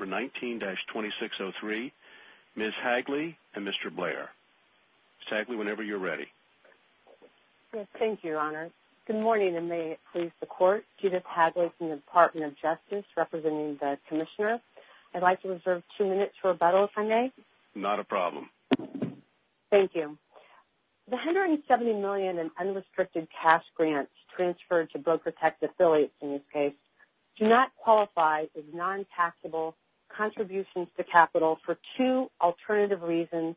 19-2603, Ms. Hagley, and Mr. Blair. Ms. Hagley, whenever you're ready. Thank you, Your Honor. Good morning, and may it please the Court. Judith Hagley from the Department of Justice, representing the Commissioner. I'd like to reserve two minutes for rebuttal, if I may. Not a problem. Thank you. The $170 million in unrestricted cash grants transferred to Broker Tec affiliates, in this case, do not qualify as non-taxable contributions to capital for two alternative reasons,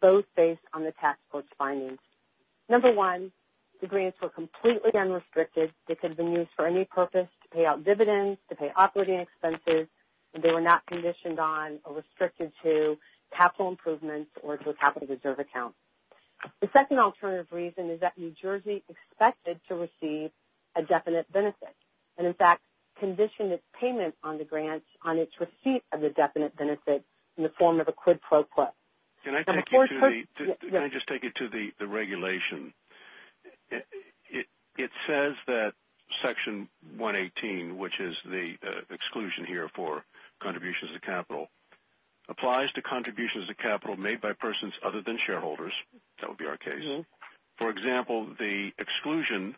both based on the tax court's findings. Number one, the grants were completely unrestricted. They could have been used for any purpose, to pay out dividends, to pay operating expenses, and they were not conditioned on or restricted to capital improvements or to a capital reserve account. The second alternative reason is that New Jersey expected to receive a definite benefit and, in fact, conditioned its payment on the grants on its receipt of the definite benefit in the form of a quid pro quo. Can I just take you to the regulation? It says that Section 118, which is the exclusion here for contributions to capital, applies to contributions to capital made by persons other than shareholders. That would be our case. For example, the exclusion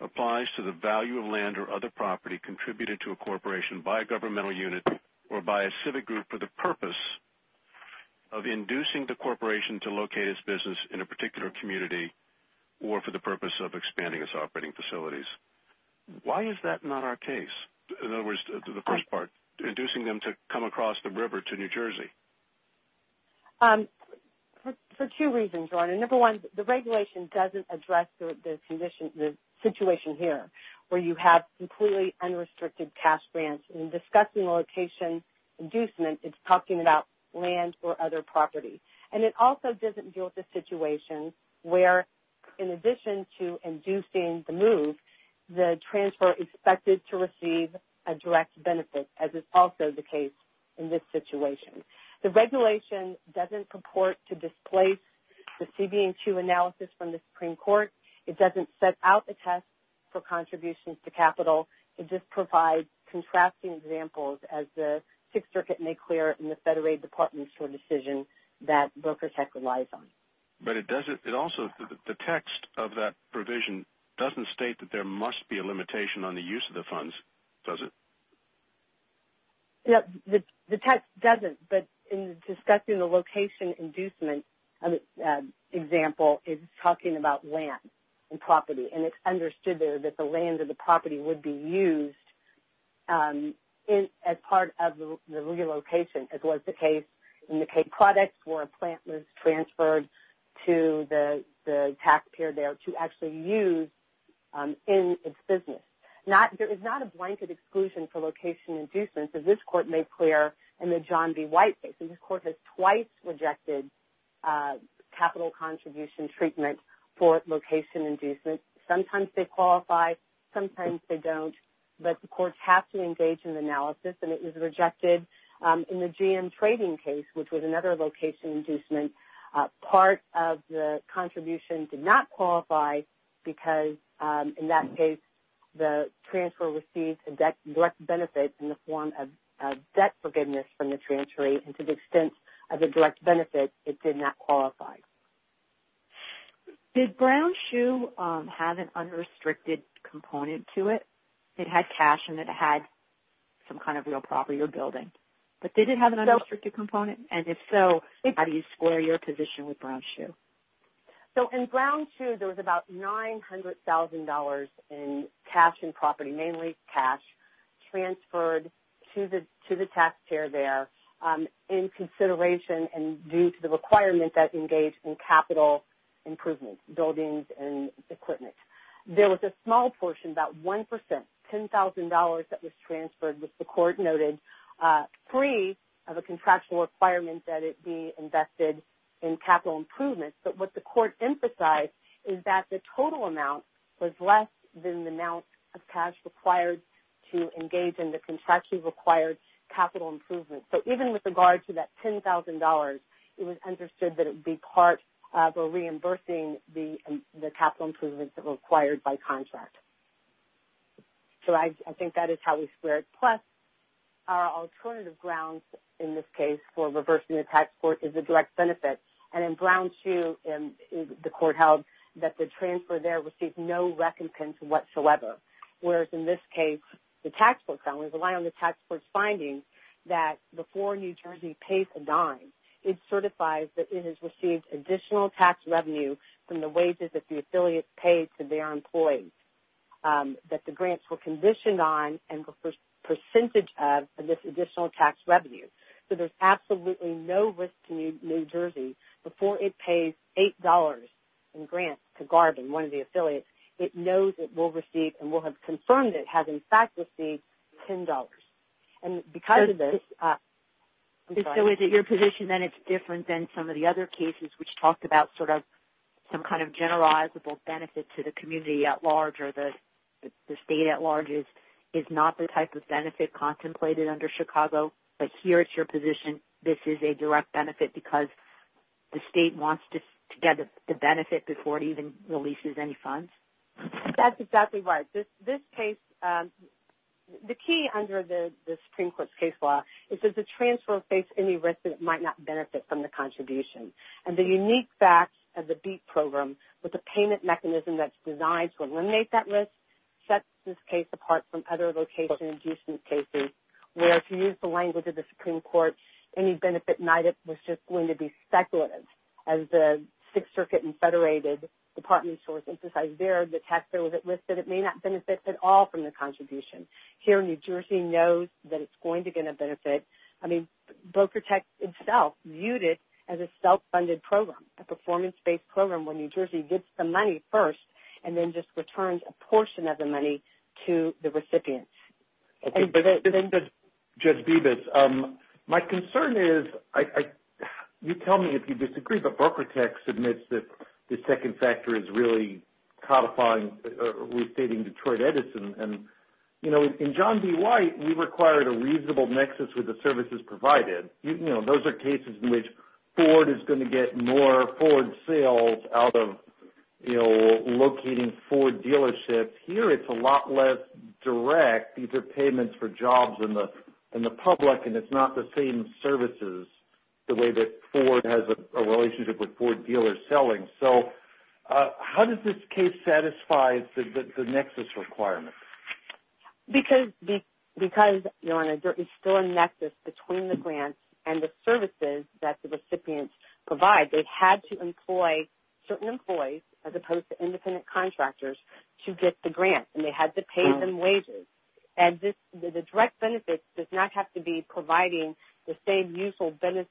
applies to the value of land or other property contributed to a corporation by a governmental unit or by a civic group for the purpose of inducing the corporation to locate its business in a particular community or for the purpose of expanding its operating facilities. Why is that not our case? In other words, the first part, inducing them to come across the river to New Jersey. For two reasons, Ron. Number one, the regulation doesn't address the situation here where you have completely unrestricted cash grants. In discussing location inducement, it's talking about land or other property. And it also doesn't deal with the situation where, in addition to inducing the move, the transfer expected to receive a direct benefit, as is also the case in this situation. The regulation doesn't purport to displace the CB&2 analysis from the Supreme Court. It doesn't set out the test for contributions to capital. It just provides contrasting examples as the Sixth Circuit made clear in the Federal Aid Department's decision that Broker Tech relies on. But the text of that provision doesn't state that there must be a limitation on the use of the funds, does it? No, the text doesn't. But in discussing the location inducement example, it's talking about land and property. And it's understood there that the land and the property would be used as part of the relocation, as was the case in the K products where a plant was transferred to the taxpayer there to actually use in its business. There is not a blanket exclusion for location inducements, as this Court made clear in the John B. White case. This Court has twice rejected capital contribution treatment for location inducements. Sometimes they qualify, sometimes they don't. But the courts have to engage in the analysis, and it was rejected in the GM trading case, which was another location inducement. Part of the contribution did not qualify because, in that case, the transfer received a direct benefit in the form of debt forgiveness from the transferee, and to the extent of the direct benefit, it did not qualify. Did Brown Shoe have an unrestricted component to it? It had cash and it had some kind of real property or building. But did it have an unrestricted component? And if so, how do you square your position with Brown Shoe? So in Brown Shoe, there was about $900,000 in cash and property, mainly cash, transferred to the taxpayer there in consideration and due to the requirement that engaged in capital improvement, buildings and equipment. There was a small portion, about 1%, $10,000, that was transferred, which the Court noted, free of a contractual requirement that it be invested in capital improvement. But what the Court emphasized is that the total amount was less than the amount of cash required to engage in the contractually required capital improvement. So even with regard to that $10,000, it was understood that it would be part of a reimbursing the capital improvements that were required by contract. So I think that is how we square it. Plus, our alternative grounds in this case for reversing the tax court is a direct benefit. And in Brown Shoe, the Court held that the transfer there received no recompense whatsoever. Whereas in this case, the tax court found, relying on the tax court's findings, that before New Jersey pays a dime, it certifies that it has received additional tax revenue from the wages that the affiliates paid to their employees, that the grants were conditioned on and were a percentage of this additional tax revenue. So there's absolutely no risk to New Jersey. Before it pays $8 in grants to Garvin, one of the affiliates, it knows it will receive and will have confirmed it has in fact received $10. So is it your position that it's different than some of the other cases which talked about some kind of generalizable benefit to the community at large or the state at large is not the type of benefit contemplated under Chicago, but here is your position, this is a direct benefit because the state wants to get the benefit before it even releases any funds? That's exactly right. This case, the key under the Supreme Court's case law is that the transfer will face any risk that it might not benefit from the contribution. And the unique facts of the BEAT program with the payment mechanism that's designed to eliminate that risk sets this case apart from other location-induced cases where, if you use the language of the Supreme Court, any benefit was just going to be speculative. As the Sixth Circuit and federated department source emphasized there, the tax bill that listed it may not benefit at all from the contribution. Here, New Jersey knows that it's going to get a benefit. I mean, Broker Tech itself viewed it as a self-funded program, a performance-based program, where New Jersey gets the money first and then just returns a portion of the money to the recipients. Judge Bevis, my concern is, you tell me if you disagree, but Broker Tech submits that the second factor is really codifying or restating Detroit Edison. And, you know, in John D. White, we required a reasonable nexus with the services provided. You know, those are cases in which Ford is going to get more Ford sales out of, you know, locating Ford dealerships. Here, it's a lot less direct. These are payments for jobs in the public, and it's not the same services, the way that Ford has a relationship with Ford dealers selling. So how does this case satisfy the nexus requirement? Because, you know, there is still a nexus between the grants and the services that the recipients provide. They've had to employ certain employees, as opposed to independent contractors, to get the grants, and they had to pay them wages. And the direct benefit does not have to be providing the same useful business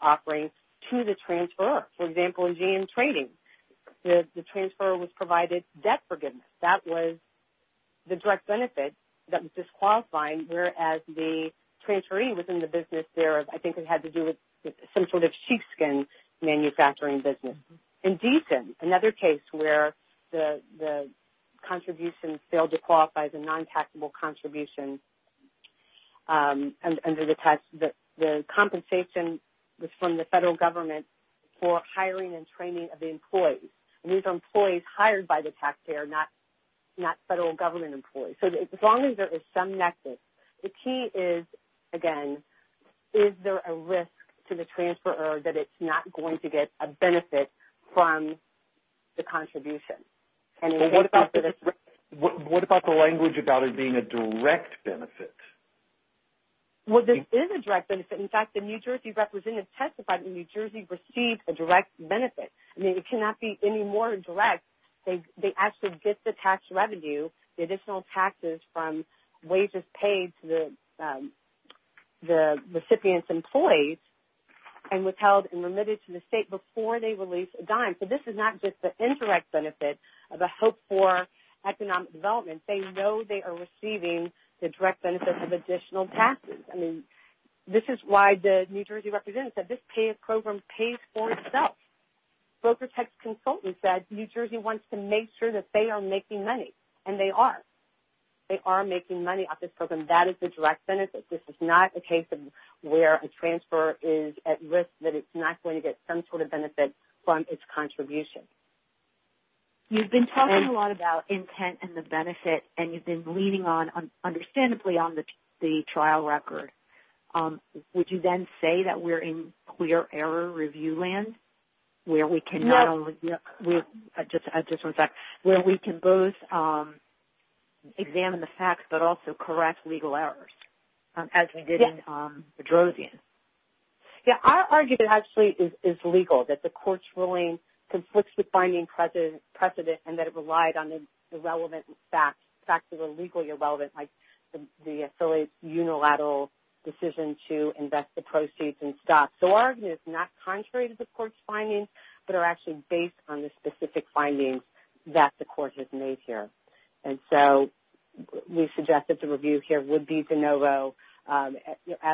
offering to the transferor. For example, in GM Trading, the transferor was provided debt forgiveness. That was the direct benefit that was disqualifying, whereas the transferee within the business there, I think, had to do with some sort of sheepskin manufacturing business. In Decent, another case where the contribution failed to qualify as a non-taxable contribution under the tax, the compensation was from the federal government for hiring and training of the employees. And these are employees hired by the taxpayer, not federal government employees. So as long as there is some nexus, the key is, again, is there a risk to the transferor that it's not going to get a benefit from the contribution? What about the language about it being a direct benefit? Well, this is a direct benefit. In fact, the New Jersey representative testified that New Jersey received a direct benefit. I mean, it cannot be any more direct. They actually get the tax revenue, the additional taxes from wages paid to the recipient's employees and withheld and remitted to the state before they release a dime. So this is not just the indirect benefit of a hope for economic development. They know they are receiving the direct benefit of additional taxes. I mean, this is why the New Jersey representative said this program pays for itself. Broker tax consultant said New Jersey wants to make sure that they are making money, and they are. They are making money off this program. That is the direct benefit. This is not a case of where a transferor is at risk that it's not going to get some sort of benefit from its contribution. You've been talking a lot about intent and the benefit, and you've been leaning on, understandably, on the trial record. Would you then say that we're in clear error review land where we can both examine the facts but also correct legal errors as we did in Bedrosian? I argue that it actually is legal, that the court's ruling conflicts with binding precedent and that it relied on the relevant facts, facts that are legally relevant, like the unilateral decision to invest the proceeds in stocks. So our argument is not contrary to the court's findings but are actually based on the specific findings that the court has made here. And so we suggest that the review here would be de novo as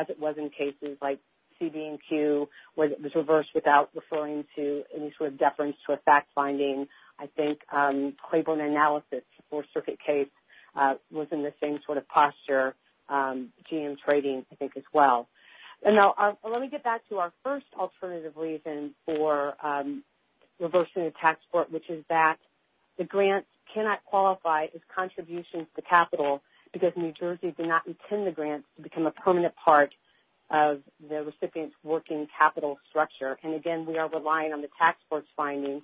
it was in cases like CB&Q where it was reversed without referring to any sort of deference to a fact finding. I think Claiborne analysis for Circuit Case was in the same sort of posture, GM trading, I think, as well. And now let me get back to our first alternative reason for reversing the tax court, which is that the grant cannot qualify as contributions to capital because New Jersey did not intend the grant to become a permanent part of the recipient's working capital structure. And again, we are relying on the tax court's findings,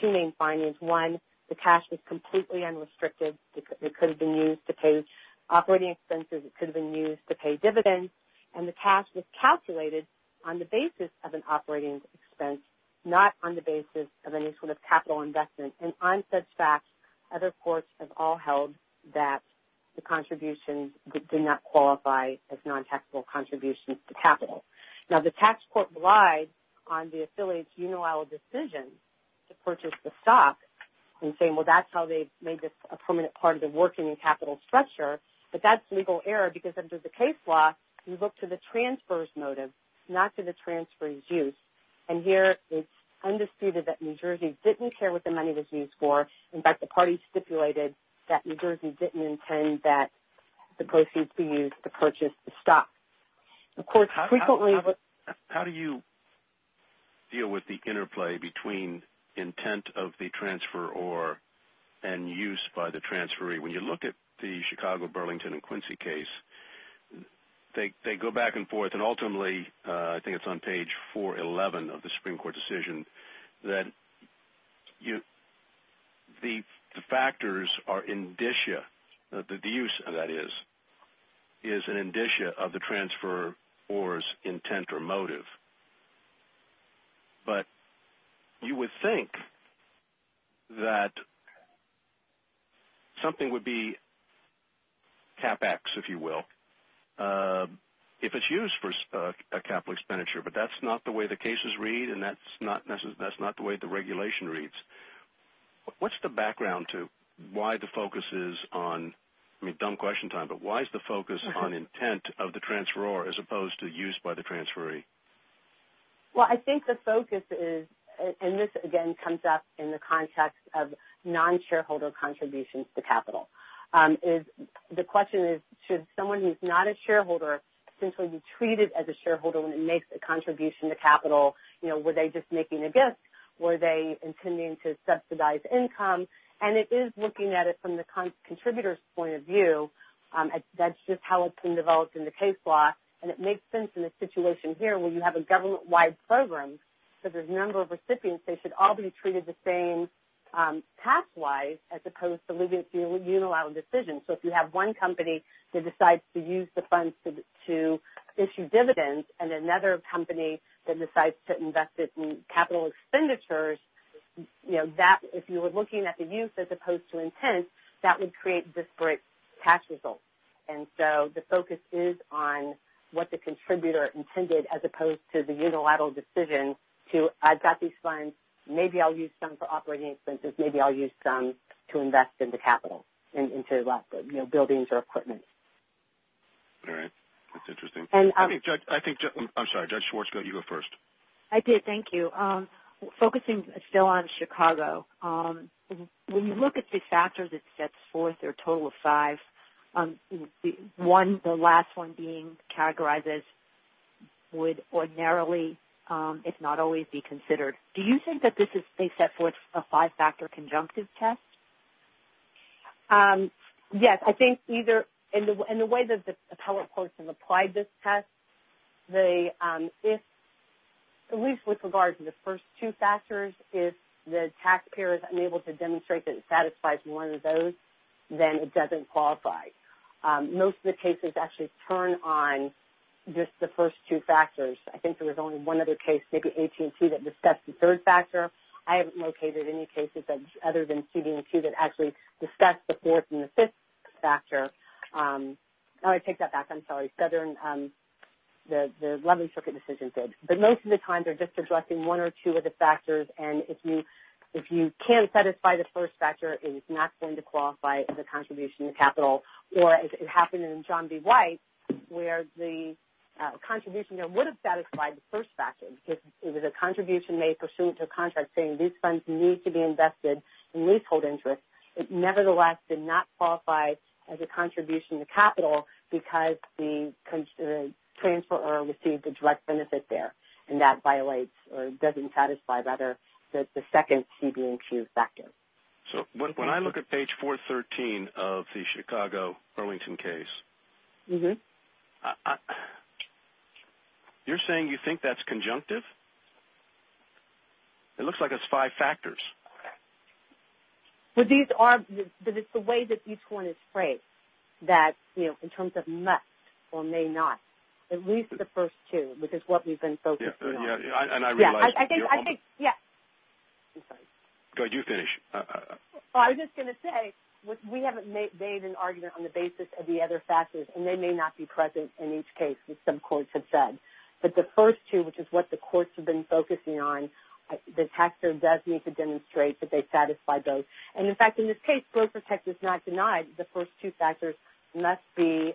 two main findings. One, the cash was completely unrestricted. It could have been used to pay operating expenses. It could have been used to pay dividends. And the cash was calculated on the basis of an operating expense, not on the basis of any sort of capital investment. And on such facts, other courts have all held that the contributions did not qualify as non-taxable contributions to capital. Now, the tax court relied on the affiliate's unilateral decision to purchase the stock and saying, well, that's how they made this a permanent part of the working capital structure. But that's legal error because under the case law, you look to the transfer's motive, not to the transferee's use. And here it's undisputed that New Jersey didn't care what the money was used for. In fact, the party stipulated that New Jersey didn't intend that the proceeds be used to purchase the stock. How do you deal with the interplay between intent of the transferor and use by the transferee? When you look at the Chicago, Burlington, and Quincy case, they go back and forth. And ultimately, I think it's on page 411 of the Supreme Court decision, that the factors are indicia, the use of that is, is an indicia of the transferor's intent or motive. But you would think that something would be CapEx, if you will, if it's used for a capital expenditure. But that's not the way the cases read, and that's not the way the regulation reads. What's the background to why the focus is on, I mean, dumb question time, but why is the focus on intent of the transferor as opposed to use by the transferee? Well, I think the focus is, and this, again, comes up in the context of non-shareholder contributions to capital. The question is, should someone who's not a shareholder essentially be treated as a shareholder when they make a contribution to capital? You know, were they just making a gift? Were they intending to subsidize income? And it is looking at it from the contributor's point of view. That's just how it's been developed in the case law, and it makes sense in the situation here where you have a government-wide program. So there's a number of recipients. They should all be treated the same tax-wise as opposed to living through a unilateral decision. So if you have one company that decides to use the funds to issue dividends and another company that decides to invest it in capital expenditures, you know, if you were looking at the use as opposed to intent, that would create disparate tax results. And so the focus is on what the contributor intended as opposed to the unilateral decision to, I've got these funds, maybe I'll use some for operating expenses, maybe I'll use some to invest into capital, into, you know, buildings or equipment. All right. That's interesting. I think, I'm sorry, Judge Schwartzfield, you go first. Thank you. Focusing still on Chicago, when you look at the factors it sets forth, there are a total of five. One, the last one being categorized as would ordinarily, if not always, be considered. Do you think that this is, they set forth a five-factor conjunctive test? Yes. I think either, in the way that the appellate courts have applied this test, at least with regard to the first two factors, if the taxpayer is unable to demonstrate that it satisfies one of those, then it doesn't qualify. Most of the cases actually turn on just the first two factors. I think there was only one other case, maybe AT&T, that discussed the third factor. I haven't located any cases other than CD&Q that actually discussed the fourth and the fifth factor. I'll take that back. I'm sorry. Southern, the 11th Circuit decision did. But most of the time they're just addressing one or two of the factors, and if you can't satisfy the first factor, it is not going to qualify as a contribution to capital. It happened in John B. White where the contribution there would have satisfied the first factor. It was a contribution made pursuant to a contract saying these funds need to be invested in leasehold interest. It nevertheless did not qualify as a contribution to capital because the transferor received a direct benefit there, and that violates or doesn't satisfy, rather, the second CD&Q factor. So when I look at page 413 of the Chicago Burlington case, you're saying you think that's conjunctive? It looks like it's five factors. But it's the way that each one is phrased that, you know, in terms of must or may not, at least the first two, which is what we've been focusing on. And I realize you're on. I'm sorry. Go ahead. You finish. Well, I was just going to say we haven't made an argument on the basis of the other factors, and they may not be present in each case, as some courts have said. But the first two, which is what the courts have been focusing on, the taxpayer does need to demonstrate that they satisfy both. And, in fact, in this case, growth protect is not denied. The first two factors must be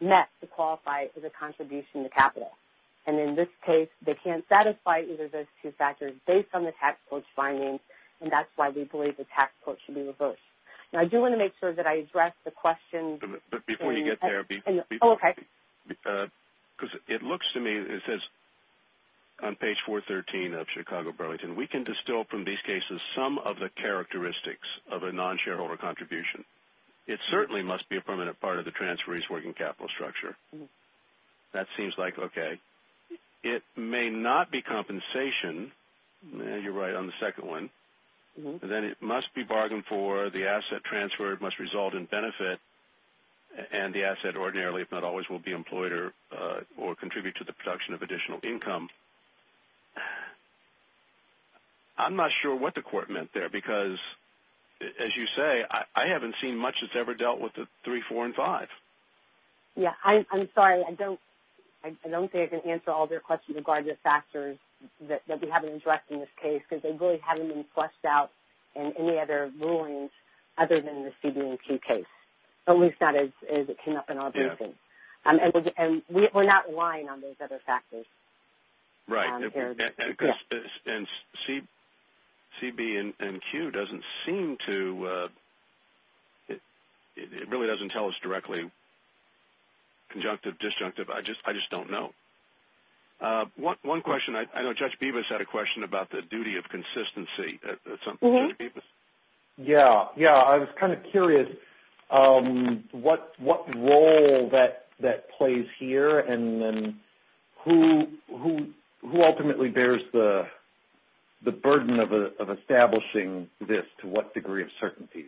met to qualify as a contribution to capital. And in this case, they can't satisfy either of those two factors based on the tax court's findings, and that's why we believe the tax court should be reversed. Now, I do want to make sure that I address the question. But before you get there, because it looks to me, it says on page 413 of Chicago Burlington, we can distill from these cases some of the characteristics of a non-shareholder contribution. It certainly must be a permanent part of the transferee's working capital structure. That seems like okay. It may not be compensation. You're right on the second one. Then it must be bargained for. The asset transferred must result in benefit, and the asset ordinarily, if not always, will be employed or contribute to the production of additional income. I'm not sure what the court meant there, because, as you say, I haven't seen much that's ever dealt with the 3, 4, and 5. I'm sorry. I don't think I can answer all of your questions regarding the factors that we haven't addressed in this case, because they really haven't been fleshed out in any other rulings other than the CB&Q case, at least not as it came up in our briefing. We're not relying on those other factors. Right. And CB&Q doesn't seem to – it really doesn't tell us directly conjunctive, disjunctive. I just don't know. One question. I know Judge Bevis had a question about the duty of consistency. Yeah. Yeah, I was kind of curious what role that plays here, and then who ultimately bears the burden of establishing this, to what degree of certainty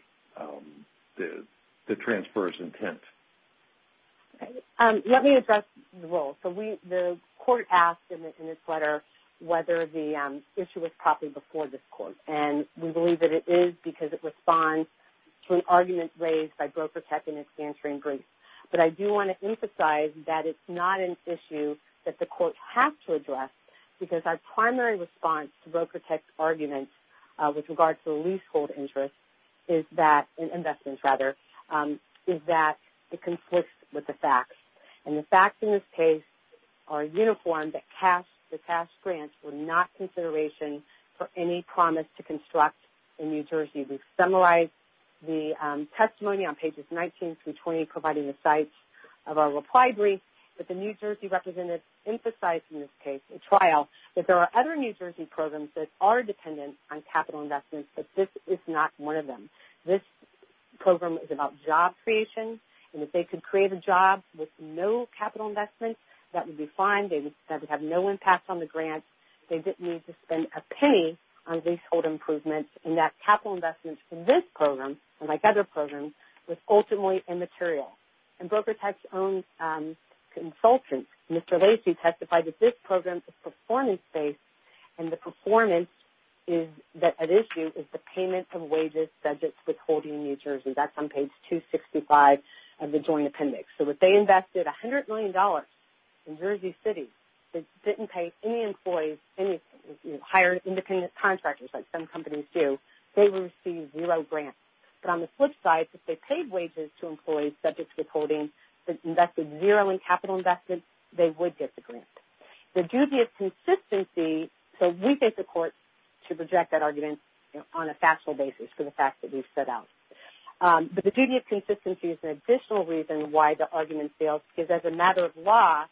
the transfer is intent. Let me address the role. So the court asked in its letter whether the issue was copied before this court, and we believe that it is because it responds to an argument raised by Broker Tech in its answering brief. But I do want to emphasize that it's not an issue that the court has to address, because our primary response to Broker Tech's argument with regard to leasehold interest is that – investments, rather – is that it conflicts with the facts. And the facts in this case are uniformed, that the cash grants were not consideration for any promise to construct in New Jersey. We've summarized the testimony on pages 19 through 20, providing the sites of our reply brief, but the New Jersey representative emphasized in this case, in trial, that there are other New Jersey programs that are dependent on capital investments, but this is not one of them. This program is about job creation, and if they could create a job with no capital investments, that would be fine. That would have no impact on the grant. They didn't need to spend a penny on leasehold improvements, and that capital investment from this program, like other programs, was ultimately immaterial. And Broker Tech's own consultant, Mr. Lacey, testified that this program is performance-based, and the performance at issue is the payment of wages, budgets, withholding in New Jersey. That's on page 265 of the joint appendix. So if they invested $100 million in New Jersey City, but didn't pay any employees, any hired independent contractors, like some companies do, they would receive zero grants. But on the flip side, if they paid wages to employees subject to withholding, but invested zero in capital investments, they would get the grant. The dubious consistency, so we take the court to reject that argument on a factual basis for the fact that we've set out. But the dubious consistency is an additional reason why the argument fails, because as a matter of law,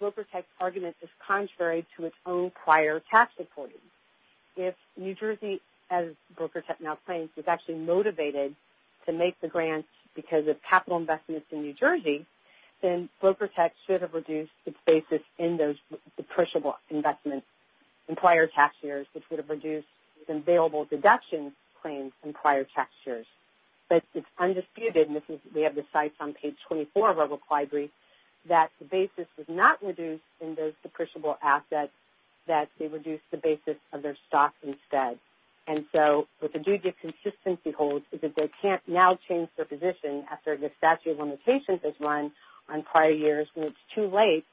Broker Tech's argument is contrary to its own prior tax reporting. If New Jersey, as Broker Tech now claims, was actually motivated to make the grant because of capital investments in New Jersey, then Broker Tech should have reduced its basis in those depreciable investments in prior tax years, which would have reduced its available deductions claims in prior tax years. But it's undisputed, and we have the sites on page 24 of our required brief, that the basis was not reduced in those depreciable assets, that they reduced the basis of their stock instead. And so what the dubious consistency holds is that they can't now change their position after the statute of limitations is run on prior years, and it's too late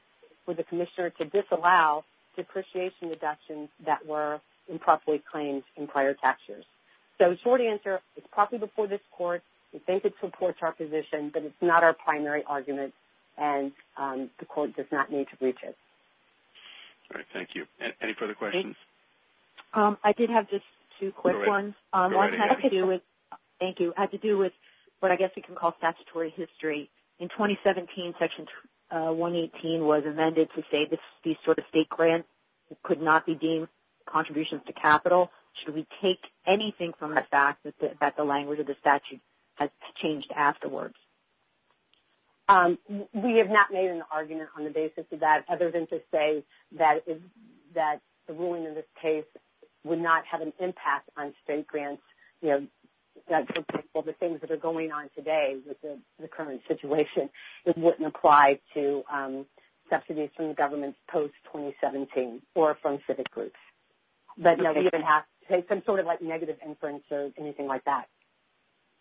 for the commissioner to disallow depreciation deductions that were improperly claimed in prior tax years. So the short answer is probably before this court. We think it supports our position, but it's not our primary argument, and the court does not need to breach it. All right, thank you. Any further questions? I did have just two quick ones. Thank you. It had to do with what I guess we can call statutory history. In 2017, Section 118 was amended to say these sort of state grants could not be deemed contributions to capital. Should we take anything from that fact that the language of the statute has changed afterwards? We have not made an argument on the basis of that, other than to say that the ruling in this case would not have an impact on state grants. The things that are going on today with the current situation, it wouldn't apply to subsidies from the government post-2017 or from civic groups. But you don't even have to take some sort of negative inference or anything like that.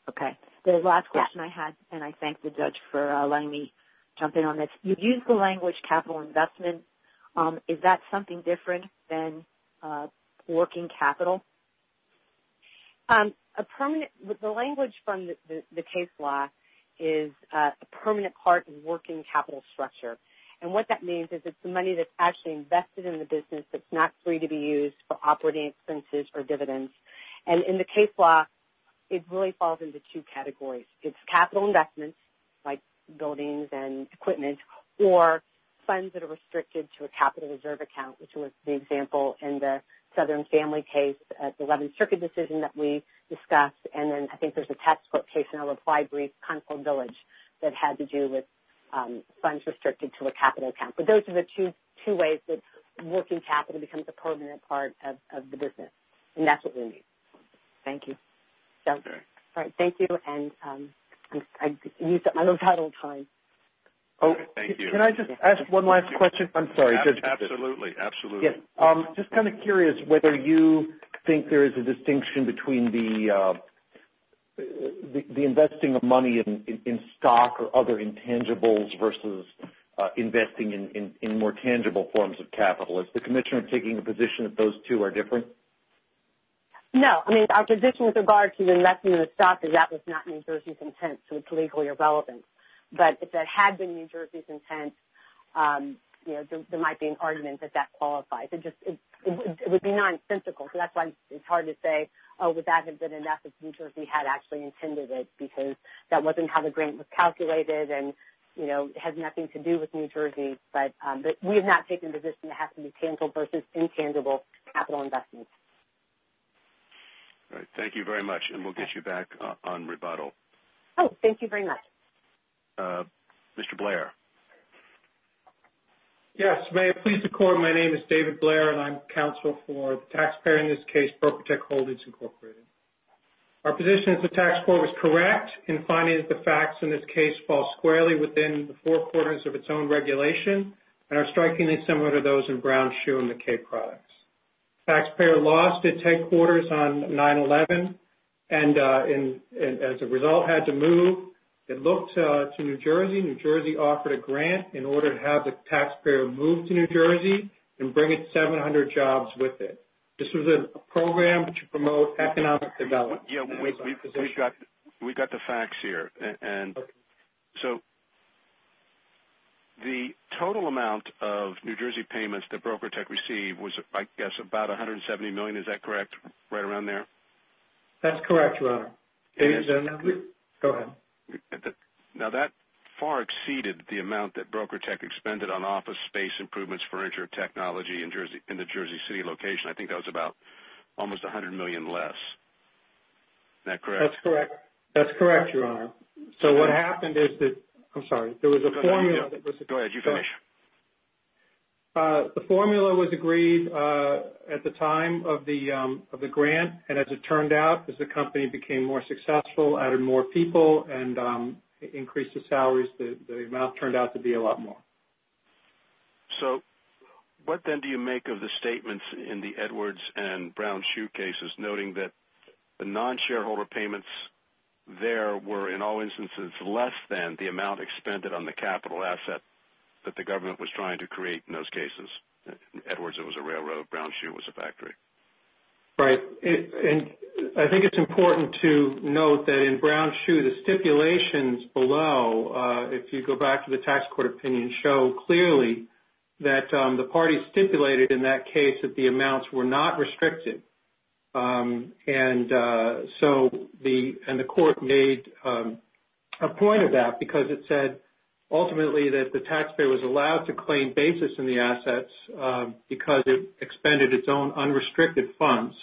Okay. The last question I had, and I thank the judge for letting me jump in on this. You used the language capital investment. Is that something different than working capital? The language from the case law is a permanent part of working capital structure. And what that means is it's the money that's actually invested in the business that's not free to be used for operating expenses or dividends. And in the case law, it really falls into two categories. It's capital investments, like buildings and equipment, or funds that are restricted to a capital reserve account, which was the example in the Southern Family case at the 11th Circuit decision that we discussed. And then I think there's a textbook case in our reply brief, Concord Village, that had to do with funds restricted to a capital account. But those are the two ways that working capital becomes a permanent part of the business. And that's what we need. Thank you. All right. Thank you. And I'm out of time. Can I just ask one last question? I'm sorry. Absolutely. Just kind of curious whether you think there is a distinction between the investing of money in stock or other intangibles versus investing in more tangible forms of capital. Is the Commissioner taking a position that those two are different? No. I mean, our position with regard to investing in stock is that was not New Jersey's intent, so it's legally irrelevant. But if that had been New Jersey's intent, there might be an argument that that qualifies. It would be nonsensical, so that's why it's hard to say, oh, would that have been enough if New Jersey had actually intended it, because that wasn't how the grant was calculated and, you know, it has nothing to do with New Jersey. But we have not taken the position it has to be tangible versus intangible capital investment. All right. Thank you very much, and we'll get you back on rebuttal. Oh, thank you very much. Mr. Blair. Yes. May it please the Court, my name is David Blair, and I'm counsel for the taxpayer in this case, Broker Tech Holdings, Incorporated. Our position is the tax court was correct in finding that the facts in this case fall squarely within the four quarters of its own regulation and are strikingly similar to those in Brown, Schuh, and McKay products. The taxpayer lost its headquarters on 9-11 and, as a result, had to move. It looked to New Jersey. New Jersey offered a grant in order to have the taxpayer move to New Jersey and bring its 700 jobs with it. This was a program to promote economic development. Yeah, we've got the facts here. So the total amount of New Jersey payments that Broker Tech received was, I guess, about $170 million. Is that correct, right around there? That's correct, Your Honor. Go ahead. Now that far exceeded the amount that Broker Tech expended on office space improvements and advanced furniture technology in the Jersey City location. I think that was about almost $100 million less. Is that correct? That's correct, Your Honor. So what happened is that the formula was agreed at the time of the grant, and as it turned out, as the company became more successful, added more people and increased the salaries, the amount turned out to be a lot more. So what then do you make of the statements in the Edwards and Brown-Schuh cases noting that the non-shareholder payments there were, in all instances, less than the amount expended on the capital asset that the government was trying to create in those cases? Edwards, it was a railroad. Brown-Schuh was a factory. Right, and I think it's important to note that in Brown-Schuh, the stipulations below, if you go back to the tax court opinion, show clearly that the parties stipulated in that case that the amounts were not restricted. And so the court made a point of that because it said, ultimately, that the taxpayer was allowed to claim basis in the assets because it expended its own unrestricted funds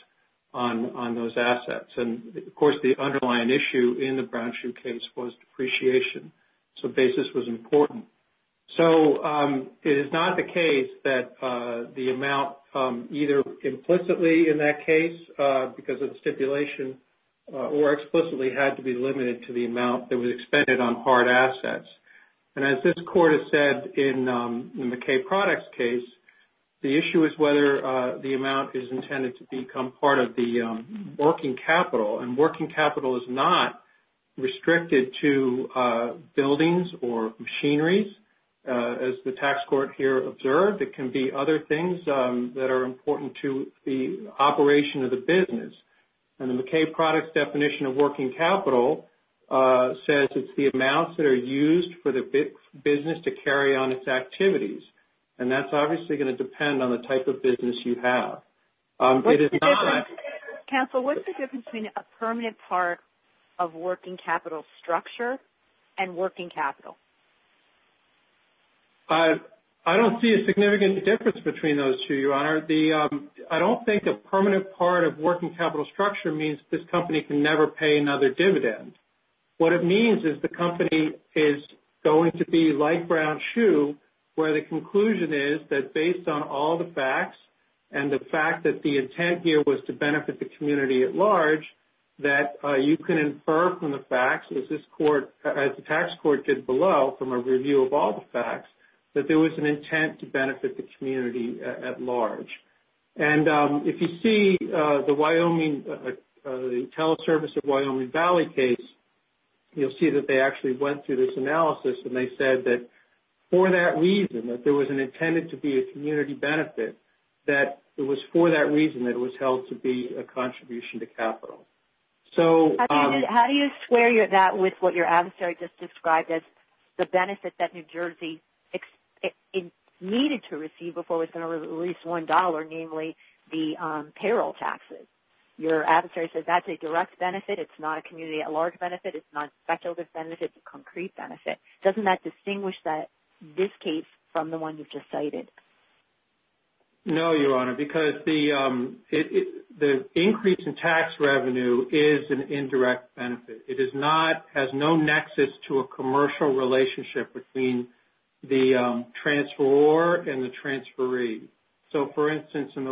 on those assets. And, of course, the underlying issue in the Brown-Schuh case was depreciation. So basis was important. So it is not the case that the amount either implicitly in that case, because of the stipulation, or explicitly had to be limited to the amount that was expended on hard assets. And as this court has said in the McKay Products case, the issue is whether the amount is intended to become part of the working capital. And working capital is not restricted to buildings or machineries. As the tax court here observed, it can be other things that are important to the operation of the business. And the McKay Products definition of working capital says it's the amounts that are used for the business to carry on its activities. And that's obviously going to depend on the type of business you have. Counsel, what's the difference between a permanent part of working capital structure and working capital? I don't see a significant difference between those two, Your Honor. I don't think a permanent part of working capital structure means this company can never pay another dividend. What it means is the company is going to be like Brown Shoe, where the conclusion is that based on all the facts, and the fact that the intent here was to benefit the community at large, that you can infer from the facts, as the tax court did below, from a review of all the facts, that there was an intent to benefit the community at large. And if you see the Wyoming, the Teleservice of Wyoming Valley case, you'll see that they actually went through this analysis and they said that for that reason, that there was intended to be a community benefit, that it was for that reason that it was held to be a contribution to capital. How do you square that with what your adversary just described as the benefit that New Jersey needed to receive before it was going to release $1, namely the payroll taxes? Your adversary said that's a direct benefit, it's not a community at large benefit, it's not speculative benefit, it's a concrete benefit. Doesn't that distinguish this case from the one you just cited? No, Your Honor, because the increase in tax revenue is an indirect benefit. It is not, has no nexus to a commercial relationship between the transferor and the transferee. So, for instance, in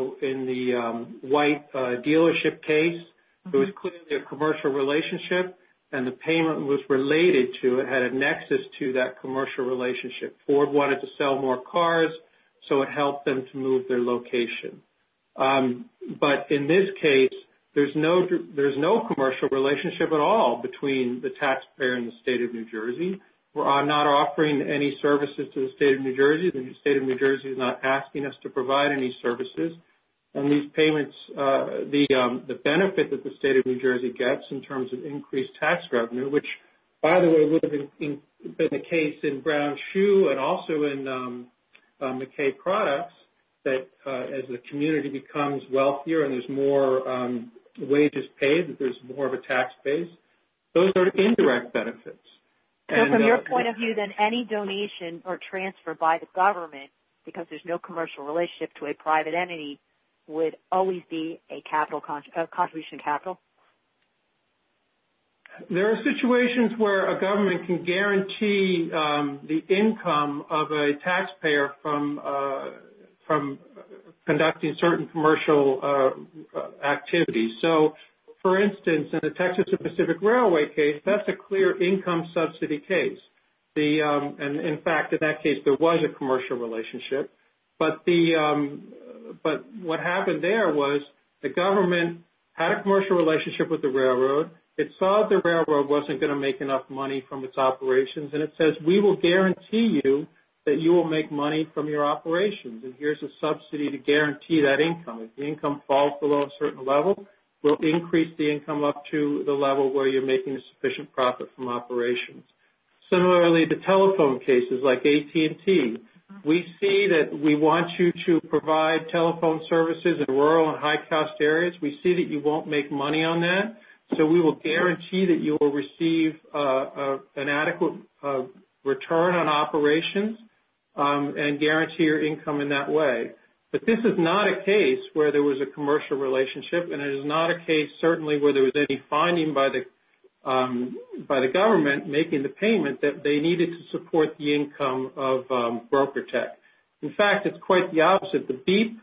the White dealership case, there was clearly a commercial relationship and the payment was related to, it had a nexus to that commercial relationship. Ford wanted to sell more cars, so it helped them to move their location. But in this case, there's no commercial relationship at all between the taxpayer and the State of New Jersey. We're not offering any services to the State of New Jersey. The State of New Jersey is not asking us to provide any services. And these payments, the benefit that the State of New Jersey gets in terms of increased tax revenue, which, by the way, would have been the case in Brown Shoe and also in McKay Products, that as the community becomes wealthier and there's more wages paid, there's more of a tax base. Those are indirect benefits. So, from your point of view, then, any donation or transfer by the government, because there's no commercial relationship to a private entity, would always be a contribution capital? There are situations where a government can guarantee the income of a taxpayer from conducting certain commercial activities. So, for instance, in the Texas Pacific Railway case, that's a clear income subsidy case. And, in fact, in that case, there was a commercial relationship. But what happened there was the government had a commercial relationship with the railroad. It saw the railroad wasn't going to make enough money from its operations. And it says, we will guarantee you that you will make money from your operations. And here's a subsidy to guarantee that income. If the income falls below a certain level, we'll increase the income up to the level where you're making a sufficient profit from operations. Similarly, the telephone cases like AT&T. We see that we want you to provide telephone services in rural and high-cost areas. We see that you won't make money on that. So, we will guarantee that you will receive an adequate return on operations and guarantee your income in that way. But this is not a case where there was a commercial relationship. And it is not a case, certainly, where there was any finding by the government making the payment that they needed to support the income of BrokerTech. In fact, it's quite the opposite. The BEEP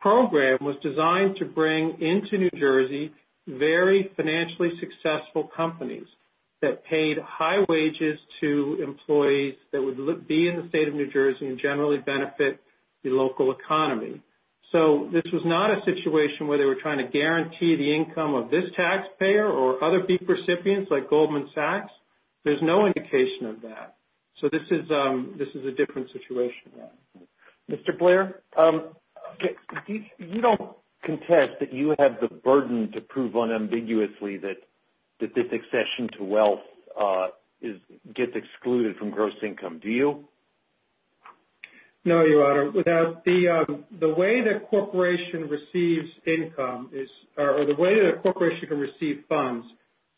program was designed to bring into New Jersey very financially successful companies that paid high wages to employees that would be in the state of New Jersey and generally benefit the local economy. So, this was not a situation where they were trying to guarantee the income of this taxpayer or other BEEP recipients like Goldman Sachs. There's no indication of that. So, this is a different situation. Mr. Blair, you don't contest that you have the burden to prove unambiguously that this accession to wealth gets excluded from gross income, do you? No, Your Honor. The way that a corporation can receive funds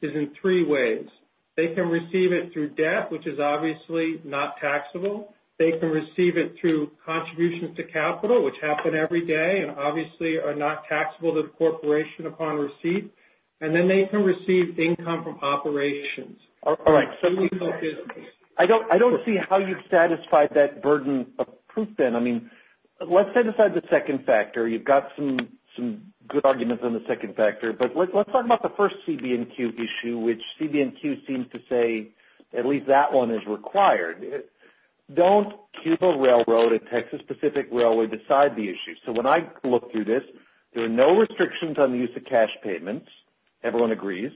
is in three ways. They can receive it through debt, which is obviously not taxable. They can receive it through contributions to capital, which happen every day and obviously are not taxable to the corporation upon receipt. And then they can receive income from operations. All right. I don't see how you've satisfied that burden of proof then. I mean, let's set aside the second factor. You've got some good arguments on the second factor. But let's talk about the first CB&Q issue, which CB&Q seems to say at least that one is required. Don't keep a railroad, a Texas-specific railway, beside the issue. So, when I look through this, there are no restrictions on the use of cash payments. Everyone agrees.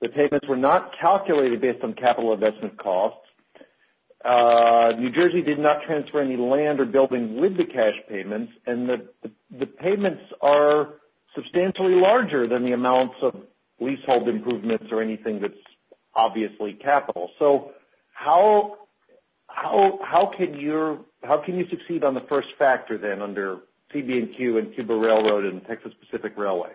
The payments were not calculated based on capital investment costs. New Jersey did not transfer any land or buildings with the cash payments. And the payments are substantially larger than the amounts of leasehold improvements or anything that's obviously capital. So, how can you succeed on the first factor then under CB&Q and Cuba Railroad and Texas-specific railway?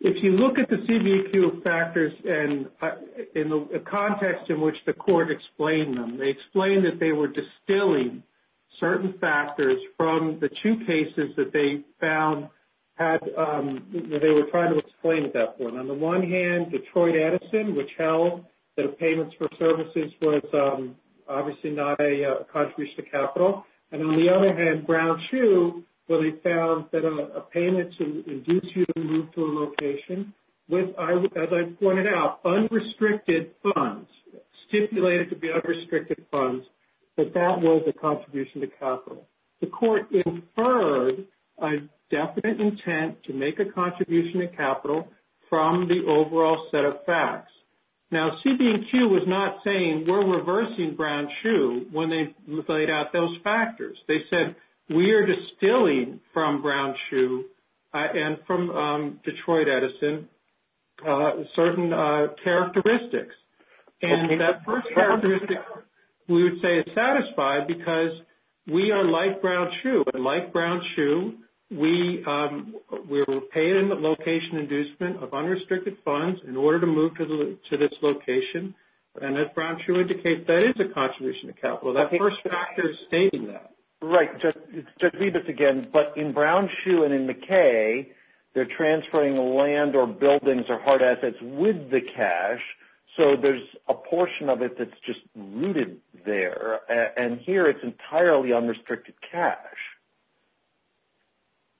If you look at the CB&Q factors in the context in which the court explained them, they explained that they were distilling certain factors from the two cases that they found that they were trying to explain at that point. On the one hand, Detroit-Edison, which held that payments for services was obviously not a contribution to capital. And on the other hand, Brown-Chu, where they found that a payment to induce you to move to a location, as I pointed out, unrestricted funds, stipulated to be unrestricted funds, that that was a contribution to capital. The court inferred a definite intent to make a contribution to capital from the overall set of facts. Now, CB&Q was not saying we're reversing Brown-Chu when they laid out those factors. They said we are distilling from Brown-Chu and from Detroit-Edison certain characteristics. And that first characteristic we would say is satisfied because we are like Brown-Chu. And like Brown-Chu, we're paying the location inducement of unrestricted funds in order to move to this location. And as Brown-Chu indicates, that is a contribution to capital. That first factor is stating that. Right. Just read this again. But in Brown-Chu and in McKay, they're transferring land or buildings or hard assets with the cash. So there's a portion of it that's just rooted there. And here it's entirely unrestricted cash.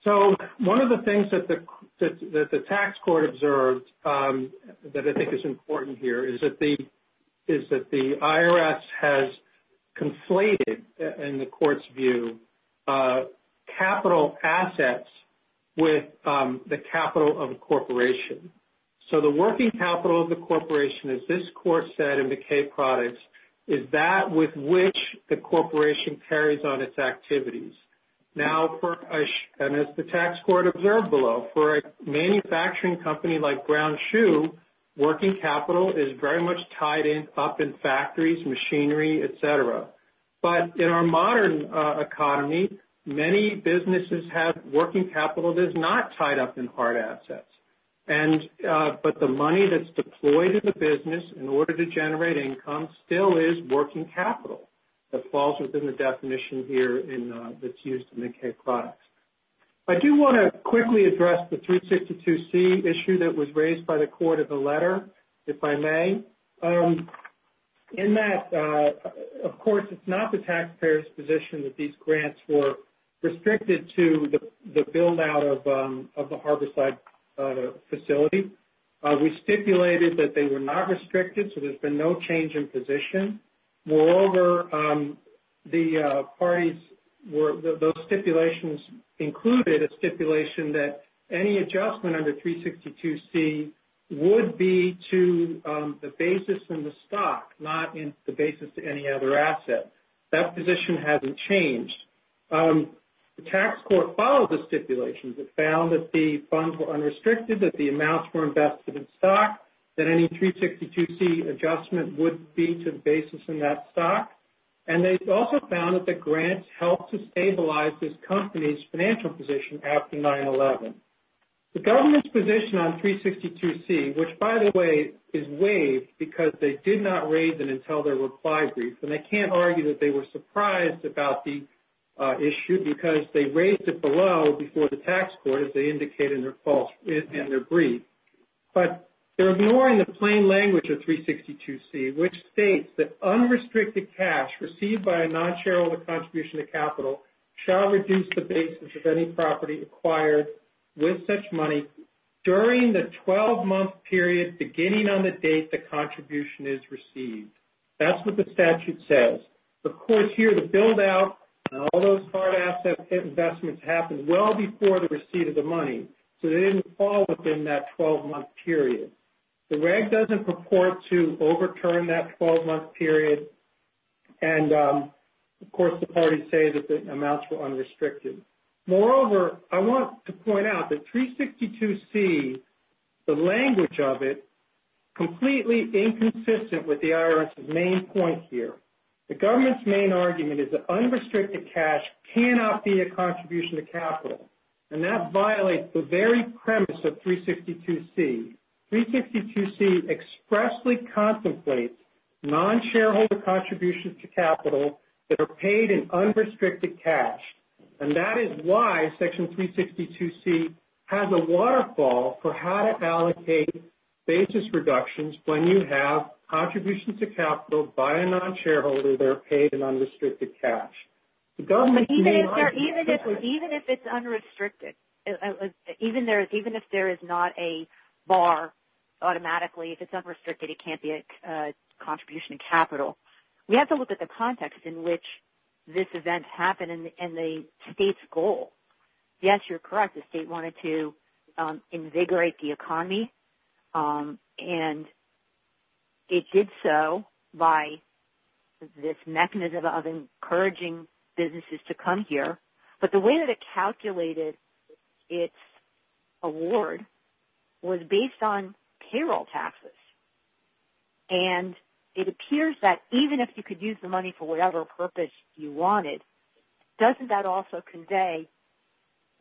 So one of the things that the tax court observed that I think is important here is that the IRS has conflated, in the court's view, capital assets with the capital of a corporation. So the working capital of the corporation, as this court said in McKay products, is that with which the corporation carries on its activities. Now, as the tax court observed below, for a manufacturing company like Brown-Chu, working capital is very much tied up in factories, machinery, et cetera. But in our modern economy, many businesses have working capital that is not tied up in hard assets. But the money that's deployed in the business, in order to generate income, still is working capital that falls within the definition here that's used in McKay products. I do want to quickly address the 362C issue that was raised by the court in the letter, if I may. In that, of course, it's not the taxpayer's position that these grants were restricted to the build-out of the Harborside facility. We stipulated that they were not restricted, so there's been no change in position. Moreover, those stipulations included a stipulation that any adjustment under 362C would be to the basis in the stock, not in the basis to any other asset. That position hasn't changed. The tax court followed the stipulations. It found that the funds were unrestricted, that the amounts were invested in stock, that any 362C adjustment would be to the basis in that stock. And they also found that the grants helped to stabilize this company's financial position after 9-11. The government's position on 362C, which, by the way, is waived because they did not raise it until their reply brief, and I can't argue that they were surprised about the issue because they raised it below before the tax court, as they indicated in their brief. But they're ignoring the plain language of 362C, which states that unrestricted cash received by a non-shareholder contribution to capital shall reduce the basis of any property acquired with such money during the 12-month period, beginning on the date the contribution is received. That's what the statute says. Of course, here, the build-out and all those hard asset investments happened well before the receipt of the money, so they didn't fall within that 12-month period. The REG doesn't purport to overturn that 12-month period. And, of course, the parties say that the amounts were unrestricted. Moreover, I want to point out that 362C, the language of it, completely inconsistent with the IRS's main point here. The government's main argument is that unrestricted cash cannot be a contribution to capital, and that violates the very premise of 362C. 362C expressly contemplates non-shareholder contributions to capital that are paid in unrestricted cash, and that is why Section 362C has a waterfall for how to allocate basis reductions when you have contributions to capital by a non-shareholder that are paid in unrestricted cash. Even if it's unrestricted, even if there is not a bar automatically, if it's unrestricted, it can't be a contribution to capital. We have to look at the context in which this event happened and the state's goal. Yes, you're correct. The state wanted to invigorate the economy, and it did so by this mechanism of encouraging businesses to come here. But the way that it calculated its award was based on payroll taxes, and it appears that even if you could use the money for whatever purpose you wanted, doesn't that also convey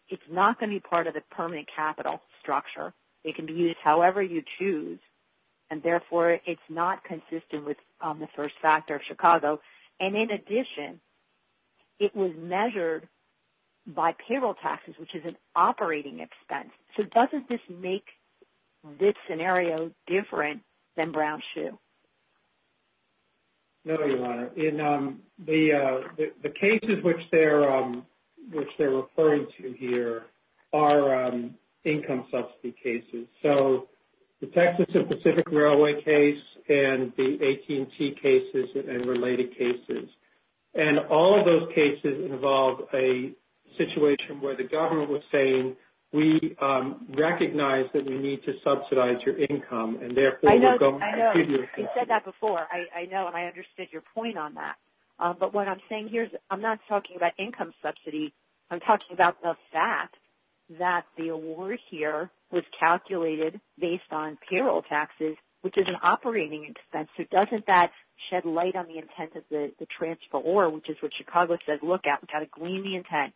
it's not going to be part of the permanent capital structure? It can be used however you choose, and therefore it's not consistent with the first factor of Chicago. And in addition, it was measured by payroll taxes, which is an operating expense. So doesn't this make this scenario different than Brown-Schuh? No, Your Honor. The cases which they're referring to here are income subsidy cases. So the Texas and Pacific Railway case and the AT&T cases and related cases. And all of those cases involve a situation where the government was saying, we recognize that we need to subsidize your income, and therefore we're going to give you a subsidy. I know. You said that before. I know, and I understood your point on that. But what I'm saying here is I'm not talking about income subsidy. I'm talking about the fact that the award here was calculated based on payroll taxes, which is an operating expense. So doesn't that shed light on the intent of the transfer? Or, which is what Chicago said, look out, we've got to glean the intent.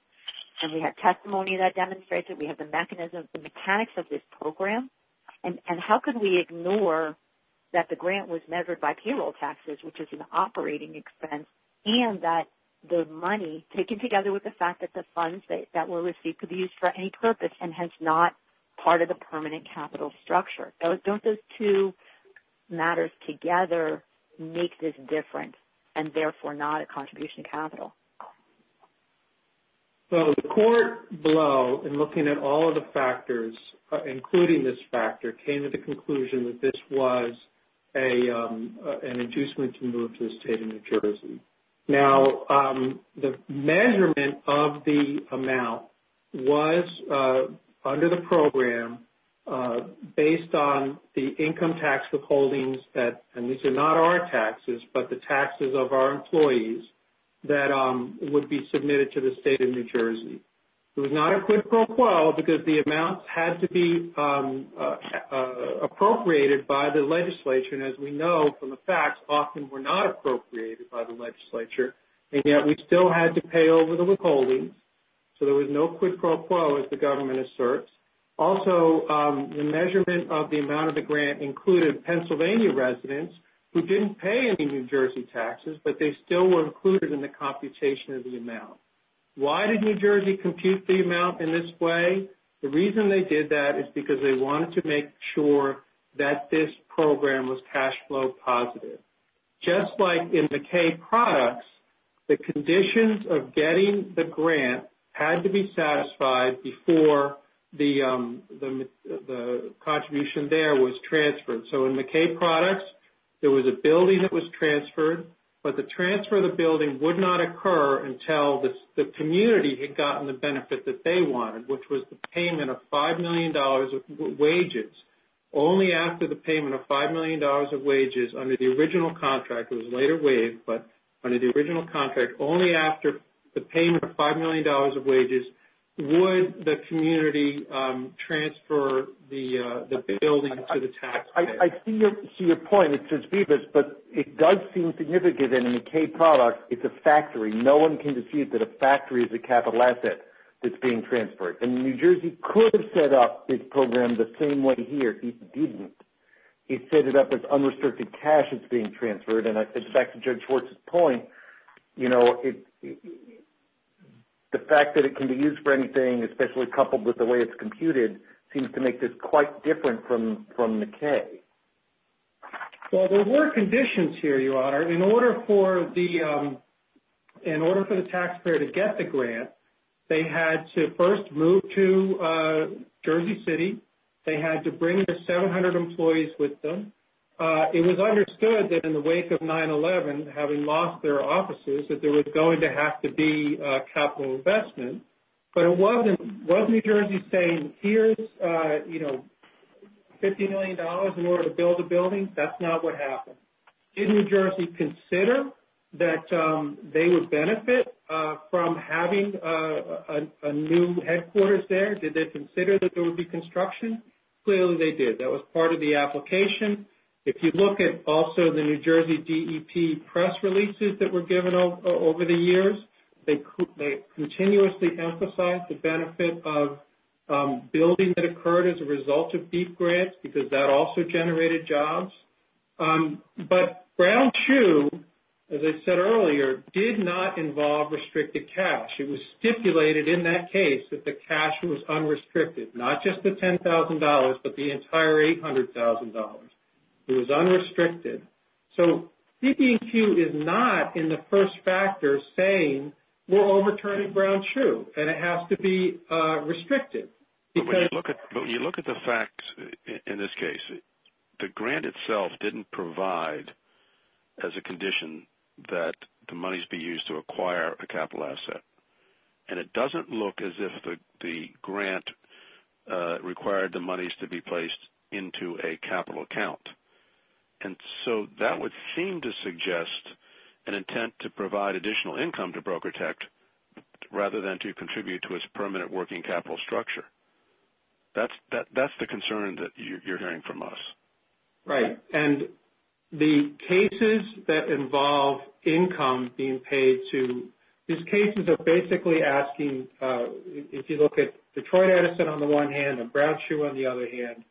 And we have testimony that demonstrates it. We have the mechanism, the mechanics of this program. And how could we ignore that the grant was measured by payroll taxes, which is an operating expense, and that the money, taken together with the fact that the funds that were received could be used for any purpose and hence not part of the permanent capital structure. Don't those two matters together make this different, and therefore not a contribution to capital? So the court below, in looking at all of the factors, including this factor, came to the conclusion that this was an inducement to move to the state of New Jersey. Now, the measurement of the amount was, under the program, based on the income tax withholdings, and these are not our taxes, but the taxes of our employees, that would be submitted to the state of New Jersey. It was not a quid pro quo because the amounts had to be appropriated by the legislature. And as we know from the facts, often were not appropriated by the legislature, and yet we still had to pay over the withholdings. So there was no quid pro quo, as the government asserts. Also, the measurement of the amount of the grant included Pennsylvania residents who didn't pay any New Jersey taxes, but they still were included in the computation of the amount. Why did New Jersey compute the amount in this way? The reason they did that is because they wanted to make sure that this program was cash flow positive. Just like in McKay Products, the conditions of getting the grant had to be satisfied before the contribution there was transferred. So in McKay Products, there was a building that was transferred, but the transfer of the building would not occur until the community had gotten the benefit that they wanted, which was the payment of $5 million of wages. Only after the payment of $5 million of wages under the original contract, it was later waived, but under the original contract, only after the payment of $5 million of wages would the community transfer the building to the taxpayer. I see your point. But it does seem significant in the McKay Products, it's a factory. No one can deceive that a factory is a capital asset that's being transferred. And New Jersey could have set up this program the same way here. It didn't. It set it up as unrestricted cash that's being transferred, and it's back to Judge Schwartz's point. The fact that it can be used for anything, especially coupled with the way it's computed, seems to make this quite different from McKay. Well, there were conditions here, Your Honor. In order for the taxpayer to get the grant, they had to first move to Jersey City. They had to bring their 700 employees with them. It was understood that in the wake of 9-11, having lost their offices, that there was going to have to be capital investment. But wasn't New Jersey saying, here's $50 million in order to build a building? That's not what happened. Did New Jersey consider that they would benefit from having a new headquarters there? Did they consider that there would be construction? Clearly they did. That was part of the application. If you look at also the New Jersey DEP press releases that were given over the years, they continuously emphasized the benefit of building that occurred as a result of BEEF grants because that also generated jobs. But Brown-Chu, as I said earlier, did not involve restricted cash. It was stipulated in that case that the cash was unrestricted, not just the $10,000, but the entire $800,000. It was unrestricted. So CD&Q is not in the first factor saying we're overturning Brown-Chu, and it has to be restricted. But when you look at the facts in this case, the grant itself didn't provide as a condition that the monies be used to acquire a capital asset. And it doesn't look as if the grant required the monies to be placed into a capital account. And so that would seem to suggest an intent to provide additional income to Brokertect rather than to contribute to its permanent working capital structure. That's the concern that you're hearing from us. Right. And the cases that involve income being paid to, these cases are basically asking, if you look at Detroit Edison on the one hand and Brown-Chu on the other hand,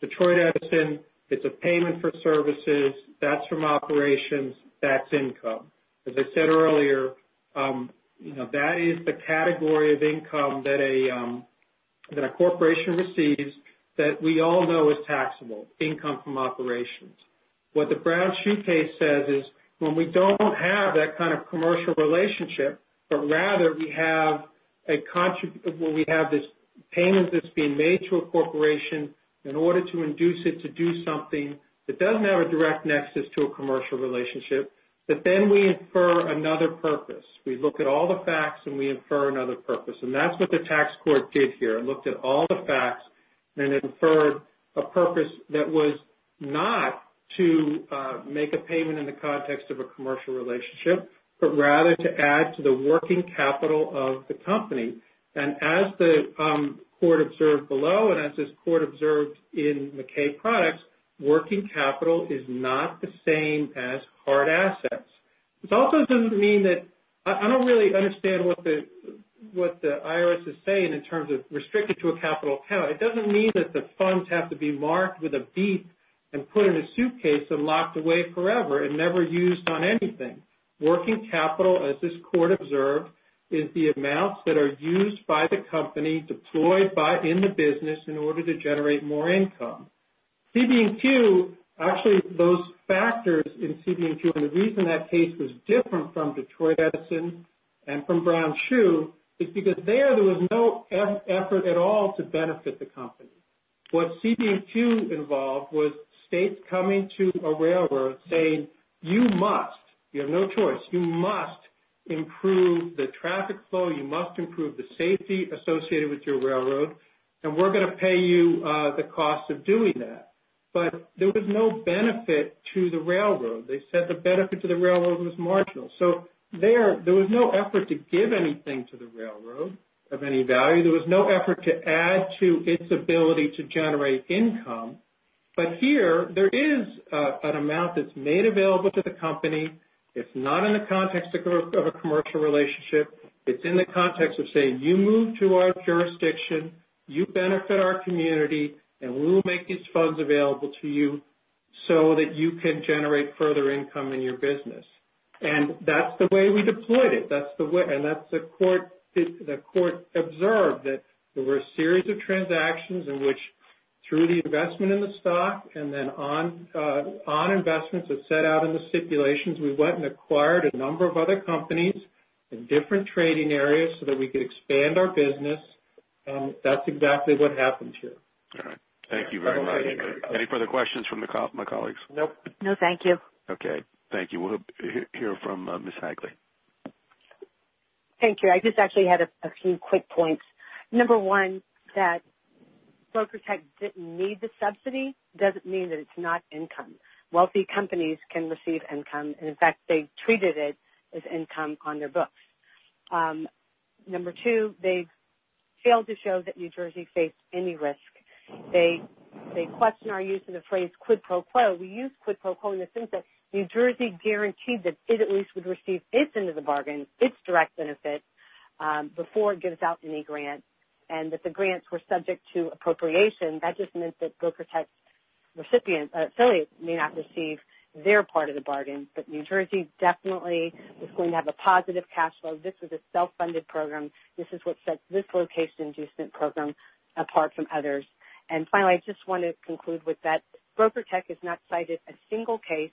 Detroit Edison, it's a payment for services, that's from operations, that's income. As I said earlier, that is the category of income that a corporation receives that we all know is taxable, income from operations. What the Brown-Chu case says is when we don't have that kind of commercial relationship, but rather we have this payment that's being made to a corporation in order to induce it to do something that doesn't have a direct nexus to a commercial relationship, that then we infer another purpose. We look at all the facts and we infer another purpose. And that's what the tax court did here. It looked at all the facts and it inferred a purpose that was not to make a payment in the context of a commercial relationship, but rather to add to the working capital of the company. And as the court observed below and as this court observed in McKay products, working capital is not the same as hard assets. This also doesn't mean that – I don't really understand what the IRS is saying in terms of restricting to a capital account. It doesn't mean that the funds have to be marked with a beep and put in a suitcase and locked away forever and never used on anything. Working capital, as this court observed, is the amounts that are used by the company, deployed in the business in order to generate more income. CB&Q, actually those factors in CB&Q and the reason that case was different from Detroit Edison and from Brown Shoe is because there there was no effort at all to benefit the company. What CB&Q involved was states coming to a railroad saying, you must, you have no choice, you must improve the traffic flow, you must improve the safety associated with your railroad, and we're going to pay you the cost of doing that. But there was no benefit to the railroad. They said the benefit to the railroad was marginal. So there was no effort to give anything to the railroad of any value. There was no effort to add to its ability to generate income. But here there is an amount that's made available to the company. It's not in the context of a commercial relationship. It's in the context of saying you move to our jurisdiction, you benefit our community, and we'll make these funds available to you so that you can generate further income in your business. And that's the way we deployed it. And that's the court observed that there were a series of transactions in which, through the investment in the stock and then on investments that set out in the stipulations, we went and acquired a number of other companies in different trading areas so that we could expand our business. That's exactly what happened here. All right. Thank you very much. Any further questions from my colleagues? No. No, thank you. Okay. Thank you. We'll hear from Ms. Hagley. Thank you. I just actually had a few quick points. Number one, that Broker Tech didn't need the subsidy doesn't mean that it's not income. Wealthy companies can receive income. And, in fact, they treated it as income on their books. Number two, they failed to show that New Jersey faced any risk. They question our use of the phrase quid pro quo. We use quid pro quo in the sense that New Jersey guaranteed that it at least would receive its end of the bargain, its direct benefit, before it gives out any grant, and that the grants were subject to appropriation. And that just meant that Broker Tech's affiliates may not receive their part of the bargain. But New Jersey definitely was going to have a positive cash flow. This was a self-funded program. This is what set this location adjustment program apart from others. And, finally, I just want to conclude with that Broker Tech has not cited a single case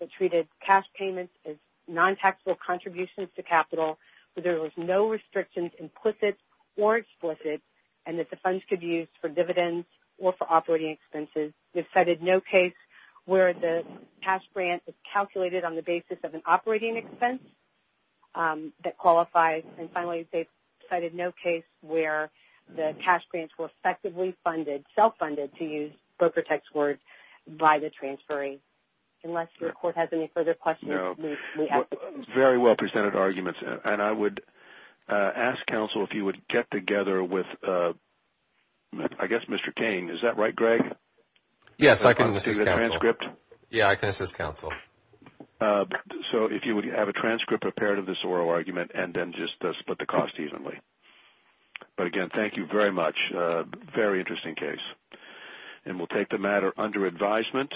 that treated cash payments as non-taxable contributions to capital, that there was no restrictions, implicit or explicit, and that the funds could be used for dividends or for operating expenses. They've cited no case where the cash grant is calculated on the basis of an operating expense that qualifies. And, finally, they've cited no case where the cash grants were effectively funded, self-funded, to use Broker Tech's word, by the transferring. Unless your court has any further questions. Very well presented arguments. And I would ask counsel if you would get together with, I guess, Mr. Cain. Is that right, Greg? Yes, I can assist counsel. Is it a transcript? Yeah, I can assist counsel. So if you would have a transcript prepared of this oral argument and then just split the cost evenly. But, again, thank you very much. Very interesting case. And we'll take the matter under advisement.